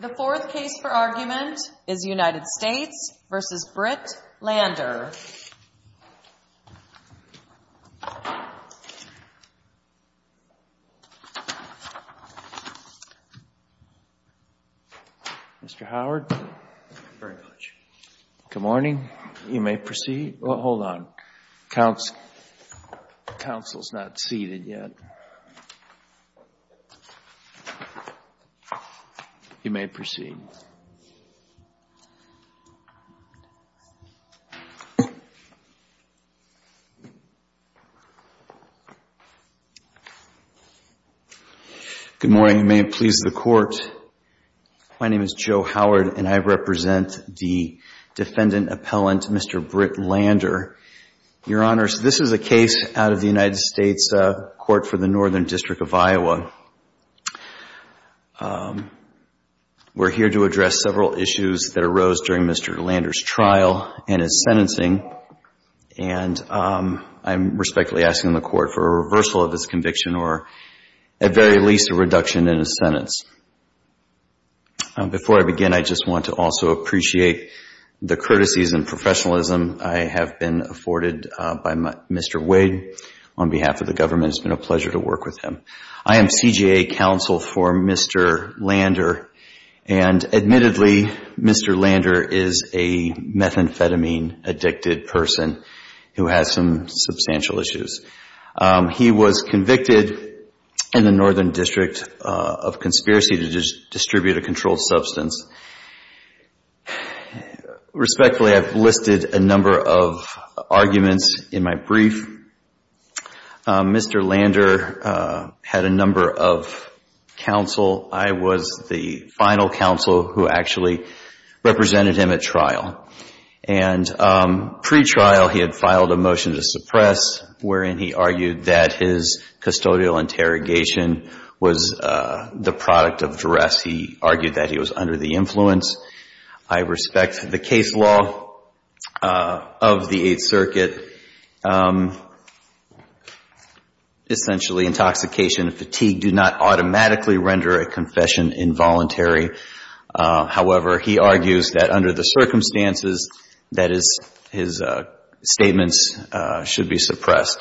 The fourth case for argument is United States v. Britt Lander. Mr. Howard? Thank you very much. Good morning. You may proceed. Well, hold on. Counsel's not seated yet. You may proceed. Good morning. You may please the Court. My name is Joe Howard, and I represent the defendant appellant, Mr. Britt Lander. Your Honors, this is a case out of the United States Court for the Northern District of Iowa. We're here to address several issues that arose during Mr. Lander's trial and his sentencing, and I'm respectfully asking the Court for a reversal of his conviction or at very least a reduction in his sentence. Before I begin, I just want to also appreciate the courtesies and professionalism I have been afforded by Mr. Wade. On behalf of the government, it's been a pleasure to work with him. I am CJA counsel for Mr. Lander, and admittedly, Mr. Lander is a methamphetamine-addicted person who has some substantial issues. He was convicted in the Northern District of conspiracy to distribute a controlled substance. Respectfully, I've listed a number of arguments in my brief. Mr. Lander had a number of counsel. I was the final counsel who actually represented him at trial. And pre-trial, he had filed a motion to suppress, wherein he argued that his custodial interrogation was the product of duress. He argued that he was under the influence. I respect the case law of the Eighth Circuit. Essentially, intoxication and fatigue do not automatically render a confession involuntary. However, he argues that under the circumstances, that his statements should be suppressed.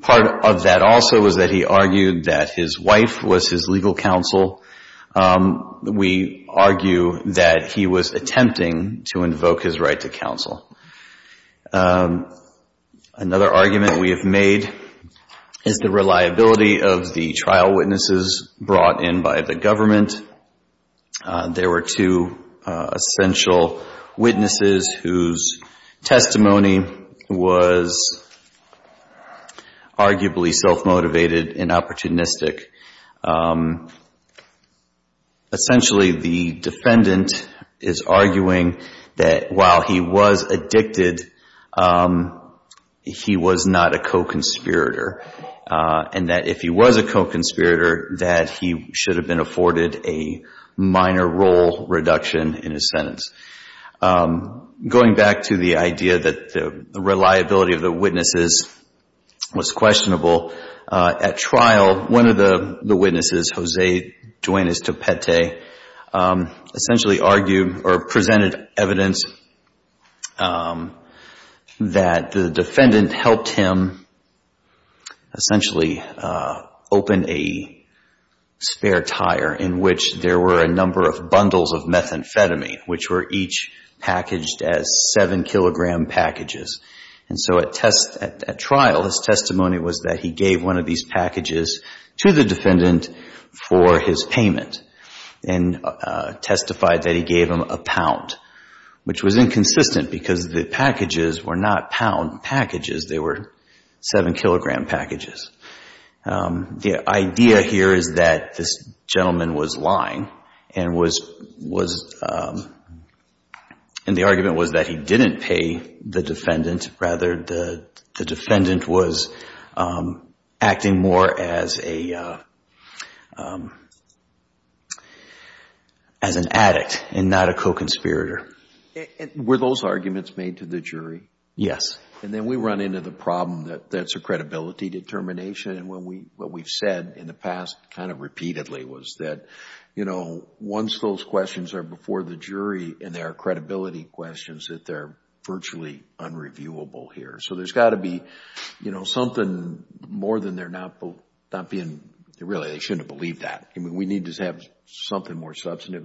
Part of that also is that he argued that his wife was his legal counsel. We argue that he was attempting to invoke his right to counsel. Another argument we have made is the reliability of the trial witnesses brought in by the government. There were two essential witnesses whose testimony was arguably self-motivated and opportunistic. Essentially, the defendant is arguing that while he was addicted, he was not a co-conspirator, and that if he was a co-conspirator, that he should have been afforded a minor role reduction in his sentence. Going back to the idea that the reliability of the witnesses was questionable, at trial, one of the witnesses, Jose Duenas Topete, essentially argued or presented evidence that the defendant helped him essentially open a spare tire in which there were a number of bundles of methamphetamine, which were each packaged as 7-kilogram packages. At trial, his testimony was that he gave one of these packages to the defendant for his payment and testified that he gave him a pound, which was inconsistent because the packages were not pound packages. They were 7-kilogram packages. The idea here is that this gentleman was lying and the argument was that he didn't pay the defendant. Rather, the defendant was acting more as an addict and not a co-conspirator. Were those arguments made to the jury? Yes. Then we run into the problem that that's a credibility determination. What we've said in the past kind of repeatedly was that once those questions are before the jury and there are credibility questions, that they're virtually unreviewable here. There's got to be something more than they're not being... Really, they shouldn't have believed that. We need to have something more substantive.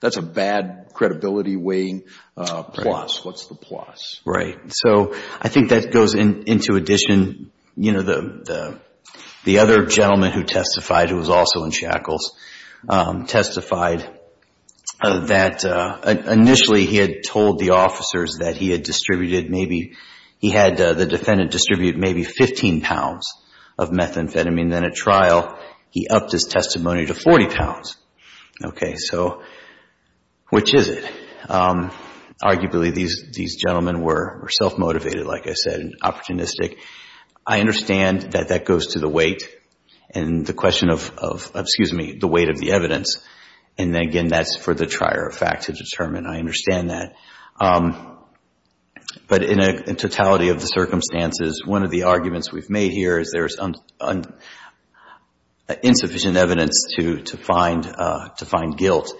That's a bad credibility weighing plus. What's the plus? I think that goes into addition. The other gentleman who testified, who was also in shackles, testified that initially he had told the officers that he had distributed maybe... he had the defendant distribute maybe 15 pounds of methamphetamine. Then at trial, he upped his testimony to 40 pounds. Okay, so which is it? Arguably, these gentlemen were self-motivated, like I said, opportunistic. I understand that that goes to the weight and the question of... excuse me, the weight of the evidence. Again, that's for the trier of fact to determine. I understand that. But in totality of the circumstances, one of the arguments we've made here is there's insufficient evidence to find guilt.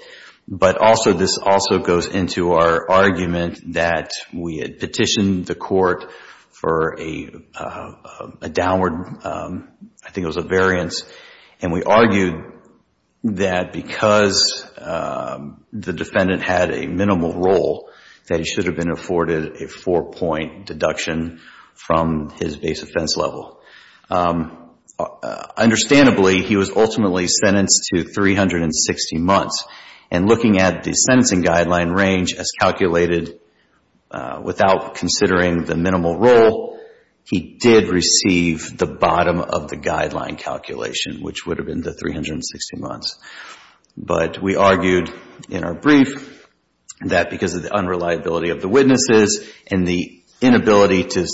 But also, this also goes into our argument that we had petitioned the court for a downward... I think it was a variance. And we argued that because the defendant had a minimal role, that he should have been afforded a four-point deduction from his base offense level. Understandably, he was ultimately sentenced to 360 months. And looking at the sentencing guideline range as calculated without considering the minimal role, he did receive the bottom of the guideline calculation, which would have been the 360 months. But we argued in our brief that because of the unreliability of the witnesses and the inability to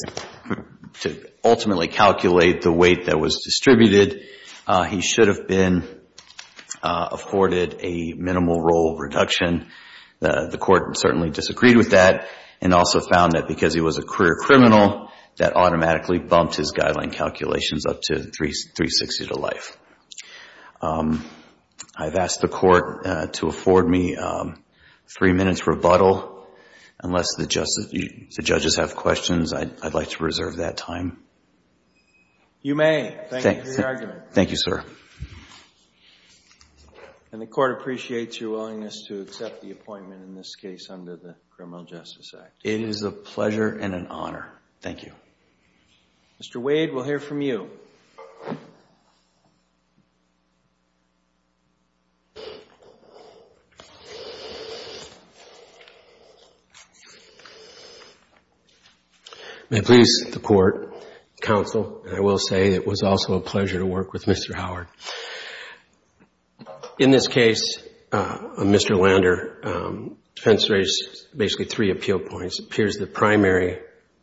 ultimately calculate the weight that was distributed, he should have been afforded a minimal role reduction. The court certainly disagreed with that and also found that because he was a career criminal, that automatically bumped his guideline calculations up to 360 to life. I've asked the court to afford me three minutes rebuttal unless the judges have questions. I'd like to reserve that time. You may. Thank you for your argument. Thank you, sir. And the court appreciates your willingness to accept the appointment in this case under the Criminal Justice Act. It is a pleasure and an honor. Thank you. Mr. Wade, we'll hear from you. May it please the court, counsel, and I will say it was also a pleasure to work with Mr. Howard. In this case, Mr. Lander, defense raised basically three appeal points. It appears the primary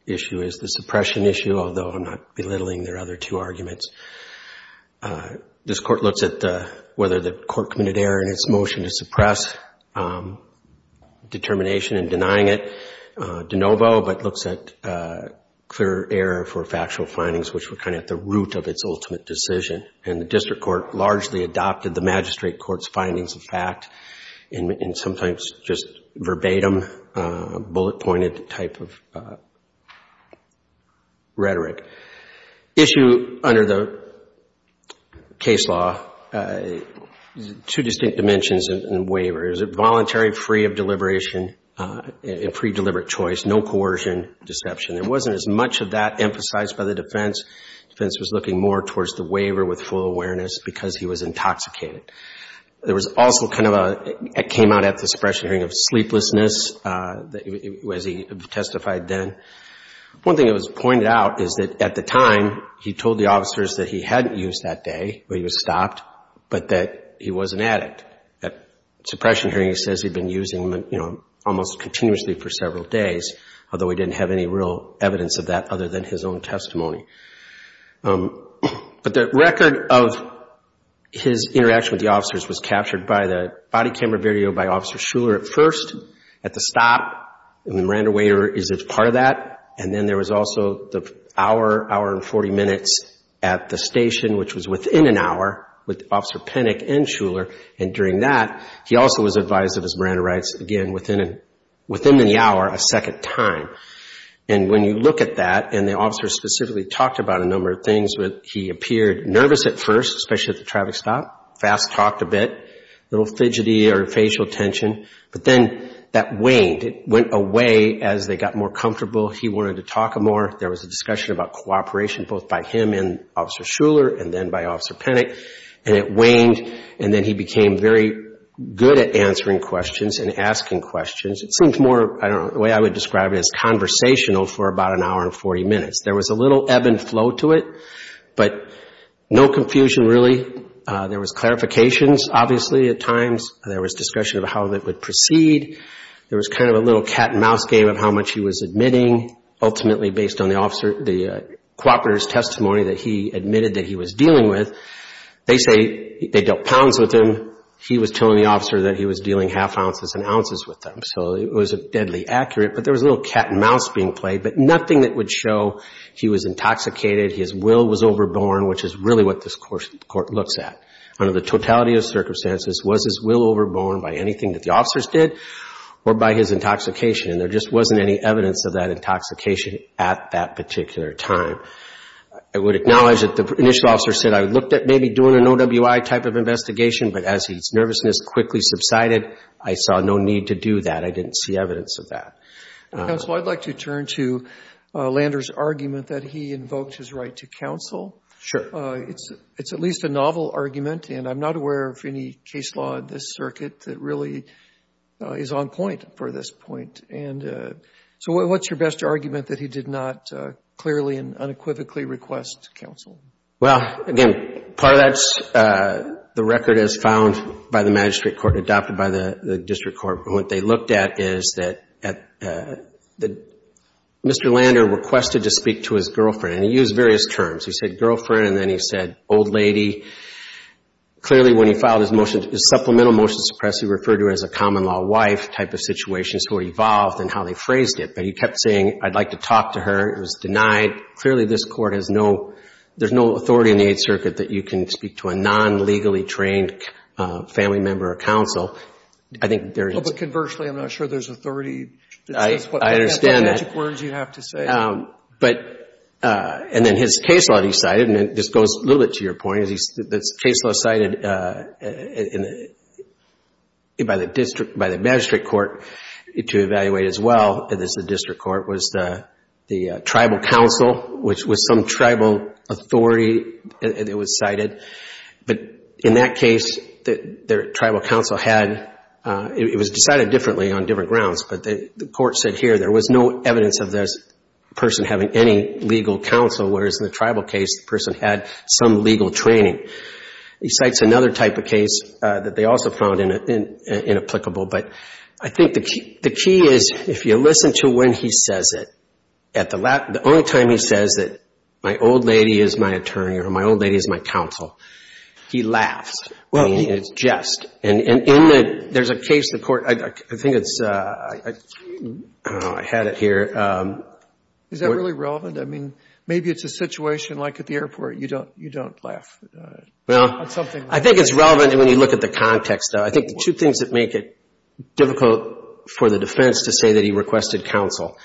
issue is the suppression issue, although I'm not belittling their other two arguments. This court looks at whether the court committed error in its motion to suppress determination and denying it de novo, but looks at clear error for factual findings, which were kind of at the root of its ultimate decision. And the district court largely adopted the magistrate court's findings of fact and sometimes just verbatim, bullet-pointed type of rhetoric. Issue under the case law, two distinct dimensions in waiver. Is it voluntary, free of deliberation, and pre-deliberate choice, no coercion, deception. There wasn't as much of that emphasized by the defense. Defense was looking more towards the waiver with full awareness because he was intoxicated. There was also kind of a, it came out at the suppression hearing of sleeplessness, as he testified then. One thing that was pointed out is that at the time, he told the officers that he hadn't used that day, but he was stopped, but that he was an addict. At suppression hearing, he says he'd been using, you know, almost continuously for several days, although he didn't have any real evidence of that other than his own testimony. But the record of his interaction with the officers was captured by the body camera video by Officer Schuller at first, at the stop, and the Miranda waiter is a part of that. And then there was also the hour, hour and 40 minutes at the station, which was within an hour, with Officer Penick and Schuller. And during that, he also was advised of his Miranda rights, again, within the hour, a second time. And when you look at that, and the officers specifically talked about a number of things. He appeared nervous at first, especially at the traffic stop. Fast-talked a bit, a little fidgety or facial tension, but then that waned. It went away as they got more comfortable. He wanted to talk more. There was a discussion about cooperation, both by him and Officer Schuller and then by Officer Penick, and it waned. And then he became very good at answering questions and asking questions. It seemed more, I don't know, the way I would describe it as conversational for about an hour and 40 minutes. There was a little ebb and flow to it, but no confusion, really. There was clarifications, obviously, at times. There was discussion of how that would proceed. There was kind of a little cat and mouse game of how much he was admitting. Ultimately, based on the officer, the cooperator's testimony that he admitted that he was dealing with, they say they dealt pounds with him. He was telling the officer that he was dealing half ounces and ounces with them, so it was deadly accurate. But there was a little cat and mouse being played, but nothing that would show he was intoxicated, his will was overborne, which is really what this Court looks at. Under the totality of circumstances, was his will overborne by anything that the officers did or by his intoxication? And there just wasn't any evidence of that intoxication at that particular time. I would acknowledge that the initial officer said, I looked at maybe doing an OWI type of investigation, but as his nervousness quickly subsided, I saw no need to do that. I didn't see evidence of that. Counsel, I'd like to turn to Lander's argument that he invoked his right to counsel. Sure. It's at least a novel argument, and I'm not aware of any case law in this circuit that really is on point for this point. So what's your best argument that he did not clearly and unequivocally request counsel? Well, again, part of that's the record as found by the magistrate court and adopted by the district court. What they looked at is that Mr. Lander requested to speak to his girlfriend, and he used various terms. He said girlfriend, and then he said old lady. Clearly, when he filed his supplemental motion to suppress, he referred to her as a common-law wife type of situations who were evolved in how they phrased it, but he kept saying, I'd like to talk to her. It was denied. Clearly, this court has no, there's no authority in the Eighth Circuit that you can speak to a non-legally trained family member or counsel. I think there is. Well, but conversely, I'm not sure there's authority. I understand that. That's the magic words you have to say. But, and then his case law that he cited, and this goes a little bit to your point, because the case law cited by the district, by the magistrate court, to evaluate as well as the district court was the tribal council, which was some tribal authority that was cited. But in that case, the tribal council had, it was decided differently on different grounds, but the court said here there was no evidence of this person having any legal counsel, whereas in the tribal case, the person had some legal training. He cites another type of case that they also found inapplicable, but I think the key is if you listen to when he says it, at the only time he says it, my old lady is my attorney or my old lady is my counsel, he laughs. I mean, it's jest. And in the, there's a case the court, I think it's, I don't know, I had it here. Is that really relevant? I mean, maybe it's a situation like at the airport, you don't laugh at something. Well, I think it's relevant when you look at the context. I think the two things that make it difficult for the defense to say that he requested counsel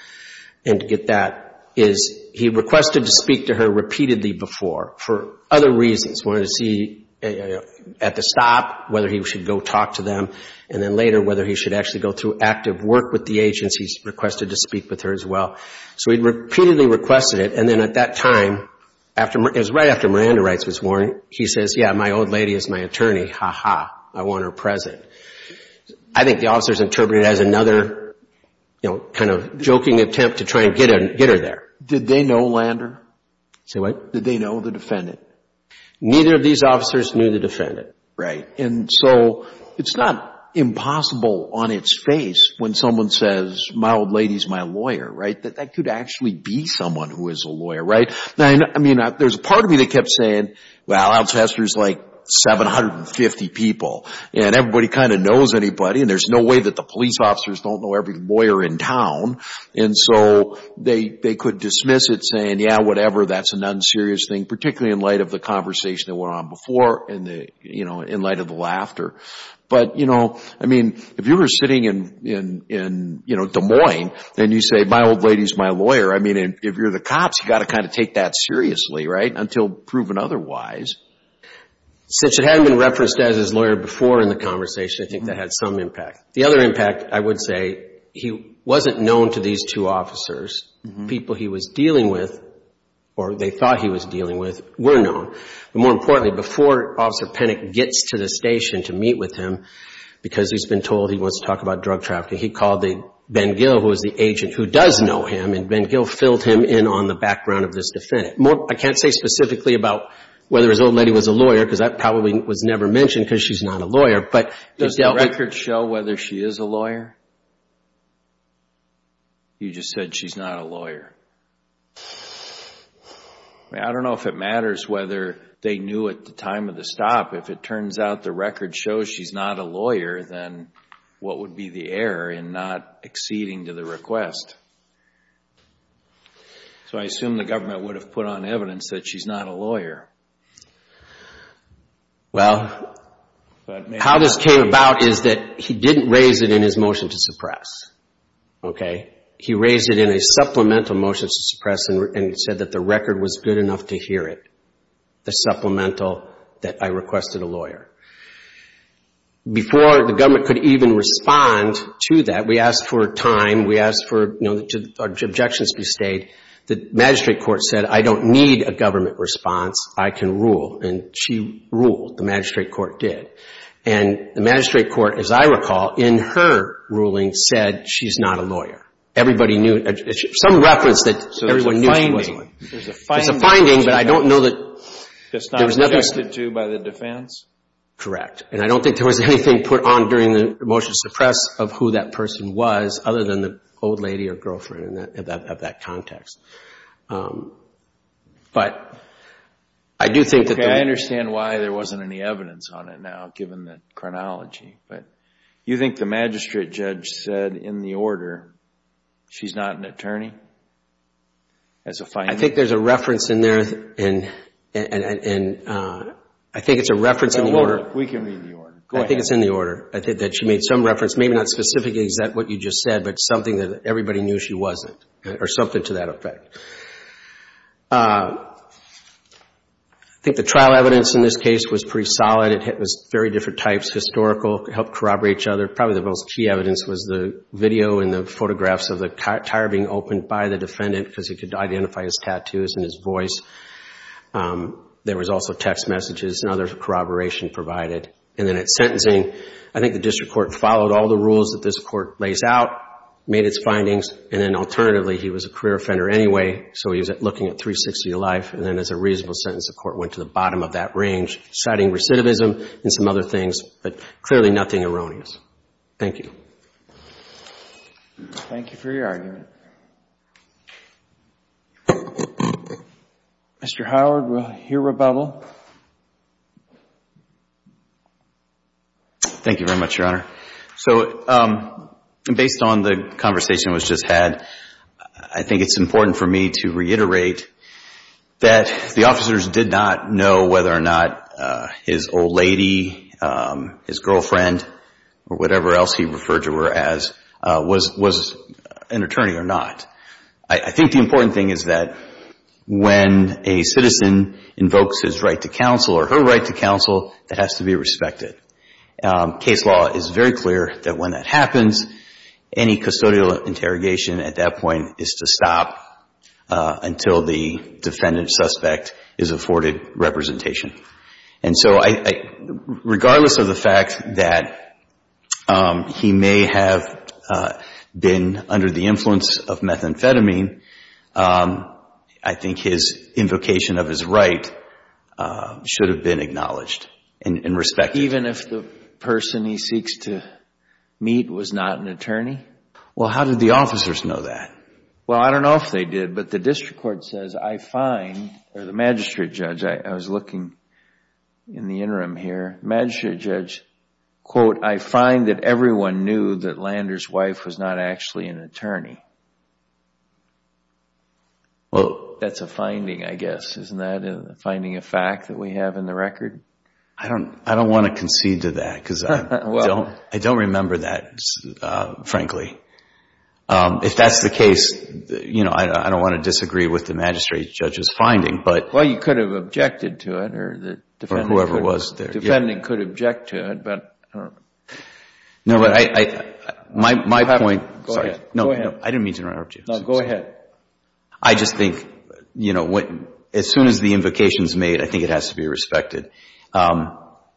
and to get that is he requested to speak to her repeatedly before for other reasons. He wanted to see at the stop whether he should go talk to them, and then later whether he should actually go through active work with the agents. He's requested to speak with her as well. So he repeatedly requested it, and then at that time, it was right after Miranda Rights was warned, he says, yeah, my old lady is my attorney. Ha, ha. I want her present. I think the officers interpreted it as another, you know, kind of joking attempt to try and get her there. Did they know Lander? Say what? Did they know the defendant? Neither of these officers knew the defendant. Right. And so it's not impossible on its face when someone says my old lady is my lawyer, right, that that could actually be someone who is a lawyer, right? I mean, there's a part of me that kept saying, well, Alcester is like 750 people, and everybody kind of knows anybody, and there's no way that the police officers don't know every lawyer in town. And so they could dismiss it saying, yeah, whatever, that's an unserious thing, particularly in light of the conversation that went on before and, you know, in light of the laughter. But, you know, I mean, if you were sitting in, you know, Des Moines, and you say my old lady is my lawyer, I mean, if you're the cops, you've got to kind of take that seriously, right, until proven otherwise. Since it hadn't been referenced as his lawyer before in the conversation, I think that had some impact. The other impact, I would say, he wasn't known to these two officers. The people he was dealing with, or they thought he was dealing with, were known. But more importantly, before Officer Penick gets to the station to meet with him, because he's been told he wants to talk about drug trafficking, he called Ben Gill, who was the agent, who does know him, and Ben Gill filled him in on the background of this defendant. I can't say specifically about whether his old lady was a lawyer, because that probably was never mentioned, because she's not a lawyer, but it dealt with... Does the record show whether she is a lawyer? You just said she's not a lawyer. I mean, I don't know if it matters whether they knew at the time of the stop. If it turns out the record shows she's not a lawyer, then what would be the error in not acceding to the request? So I assume the government would have put on evidence that she's not a lawyer. Well, how this came about is that he didn't raise it in his motion to suppress, okay? He raised it in a supplemental motion to suppress, and he said that the record was good enough to hear it, the supplemental that I requested a lawyer. Before the government could even respond to that, we asked for time. We asked for, you know, did objections be stayed. The magistrate court said, I don't need a government response. I can rule, and she ruled. The magistrate court did. And the magistrate court, as I recall, in her ruling said she's not a lawyer. Everybody knew. Some reference that everyone knew she wasn't. So there's a finding. There's a finding, but I don't know that there was nothing... Just not adjusted to by the defense? Correct. And I don't think there was anything put on during the motion to suppress of who that person was other than the old lady or girlfriend of that context. But I do think that... I understand why there wasn't any evidence on it now given the chronology, but you think the magistrate judge said in the order she's not an attorney as a finding? I think there's a reference in there, and I think it's a reference in the order. We can read the order. Go ahead. I think it's in the order. I think that she made some reference, maybe not specifically exactly what you just said, but something that everybody knew she wasn't or something to that effect. I think the trial evidence in this case was pretty solid. It was very different types, historical, helped corroborate each other. Probably the most key evidence was the video and the photographs of the tire being opened by the defendant because he could identify his tattoos and his voice. There was also text messages and other corroboration provided. And then at sentencing, I think the district court followed all the rules that this court lays out, made its findings, and then alternatively, he was a career offender anyway, so he was looking at 360 life, and then as a reasonable sentence, the court went to the bottom of that range, citing recidivism and some other things, but clearly nothing erroneous. Thank you. Thank you for your argument. Mr. Howard, we'll hear rebuttal. Thank you very much, Your Honor. So based on the conversation that was just had, I think it's important for me to reiterate that the officers did not know whether or not his old lady, his girlfriend, or whatever else he referred to her as, was an attorney or not. I think the important thing is that when a citizen invokes his right to counsel or her right to counsel, it has to be respected. Case law is very clear that when that happens, any custodial interrogation at that point is to stop until the defendant suspect is afforded representation. And so regardless of the fact that he may have been under the influence of methamphetamine, I think his invocation of his right should have been acknowledged and respected. Even if the person he seeks to meet was not an attorney? Well, how did the officers know that? Well, I don't know if they did, but the district court says, I find, or the magistrate judge, I was looking in the interim here, the magistrate judge, quote, I find that everyone knew that Lander's wife was not actually an attorney. That's a finding, I guess, isn't that, finding a fact that we have in the record? I don't want to concede to that, because I don't remember that, frankly. If that's the case, you know, I don't want to disagree with the magistrate judge's finding, but Well, you could have objected to it, or the defendant could object to it, but No, but my point Go ahead. No, I didn't mean to interrupt you. No, go ahead. I just think, you know, as soon as the invocation's made, I think it has to be respected.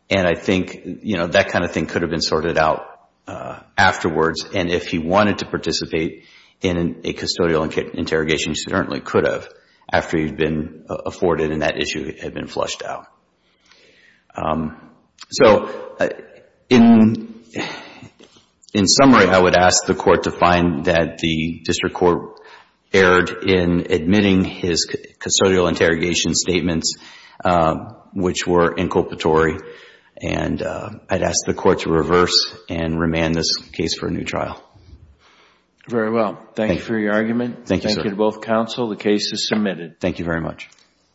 And I think, you know, that kind of thing could have been sorted out afterwards, and if he wanted to participate in a custodial interrogation, he certainly could have after he'd been afforded and that issue had been flushed out. So in summary, I would ask the court to find that the district court erred in admitting his custodial interrogation statements, which were inculpatory, and I'd ask the court to reverse and remand this case for a new trial. Very well. Thank you for your argument. Thank you, sir. Thank you to both counsel. The case is submitted. Thank you very much.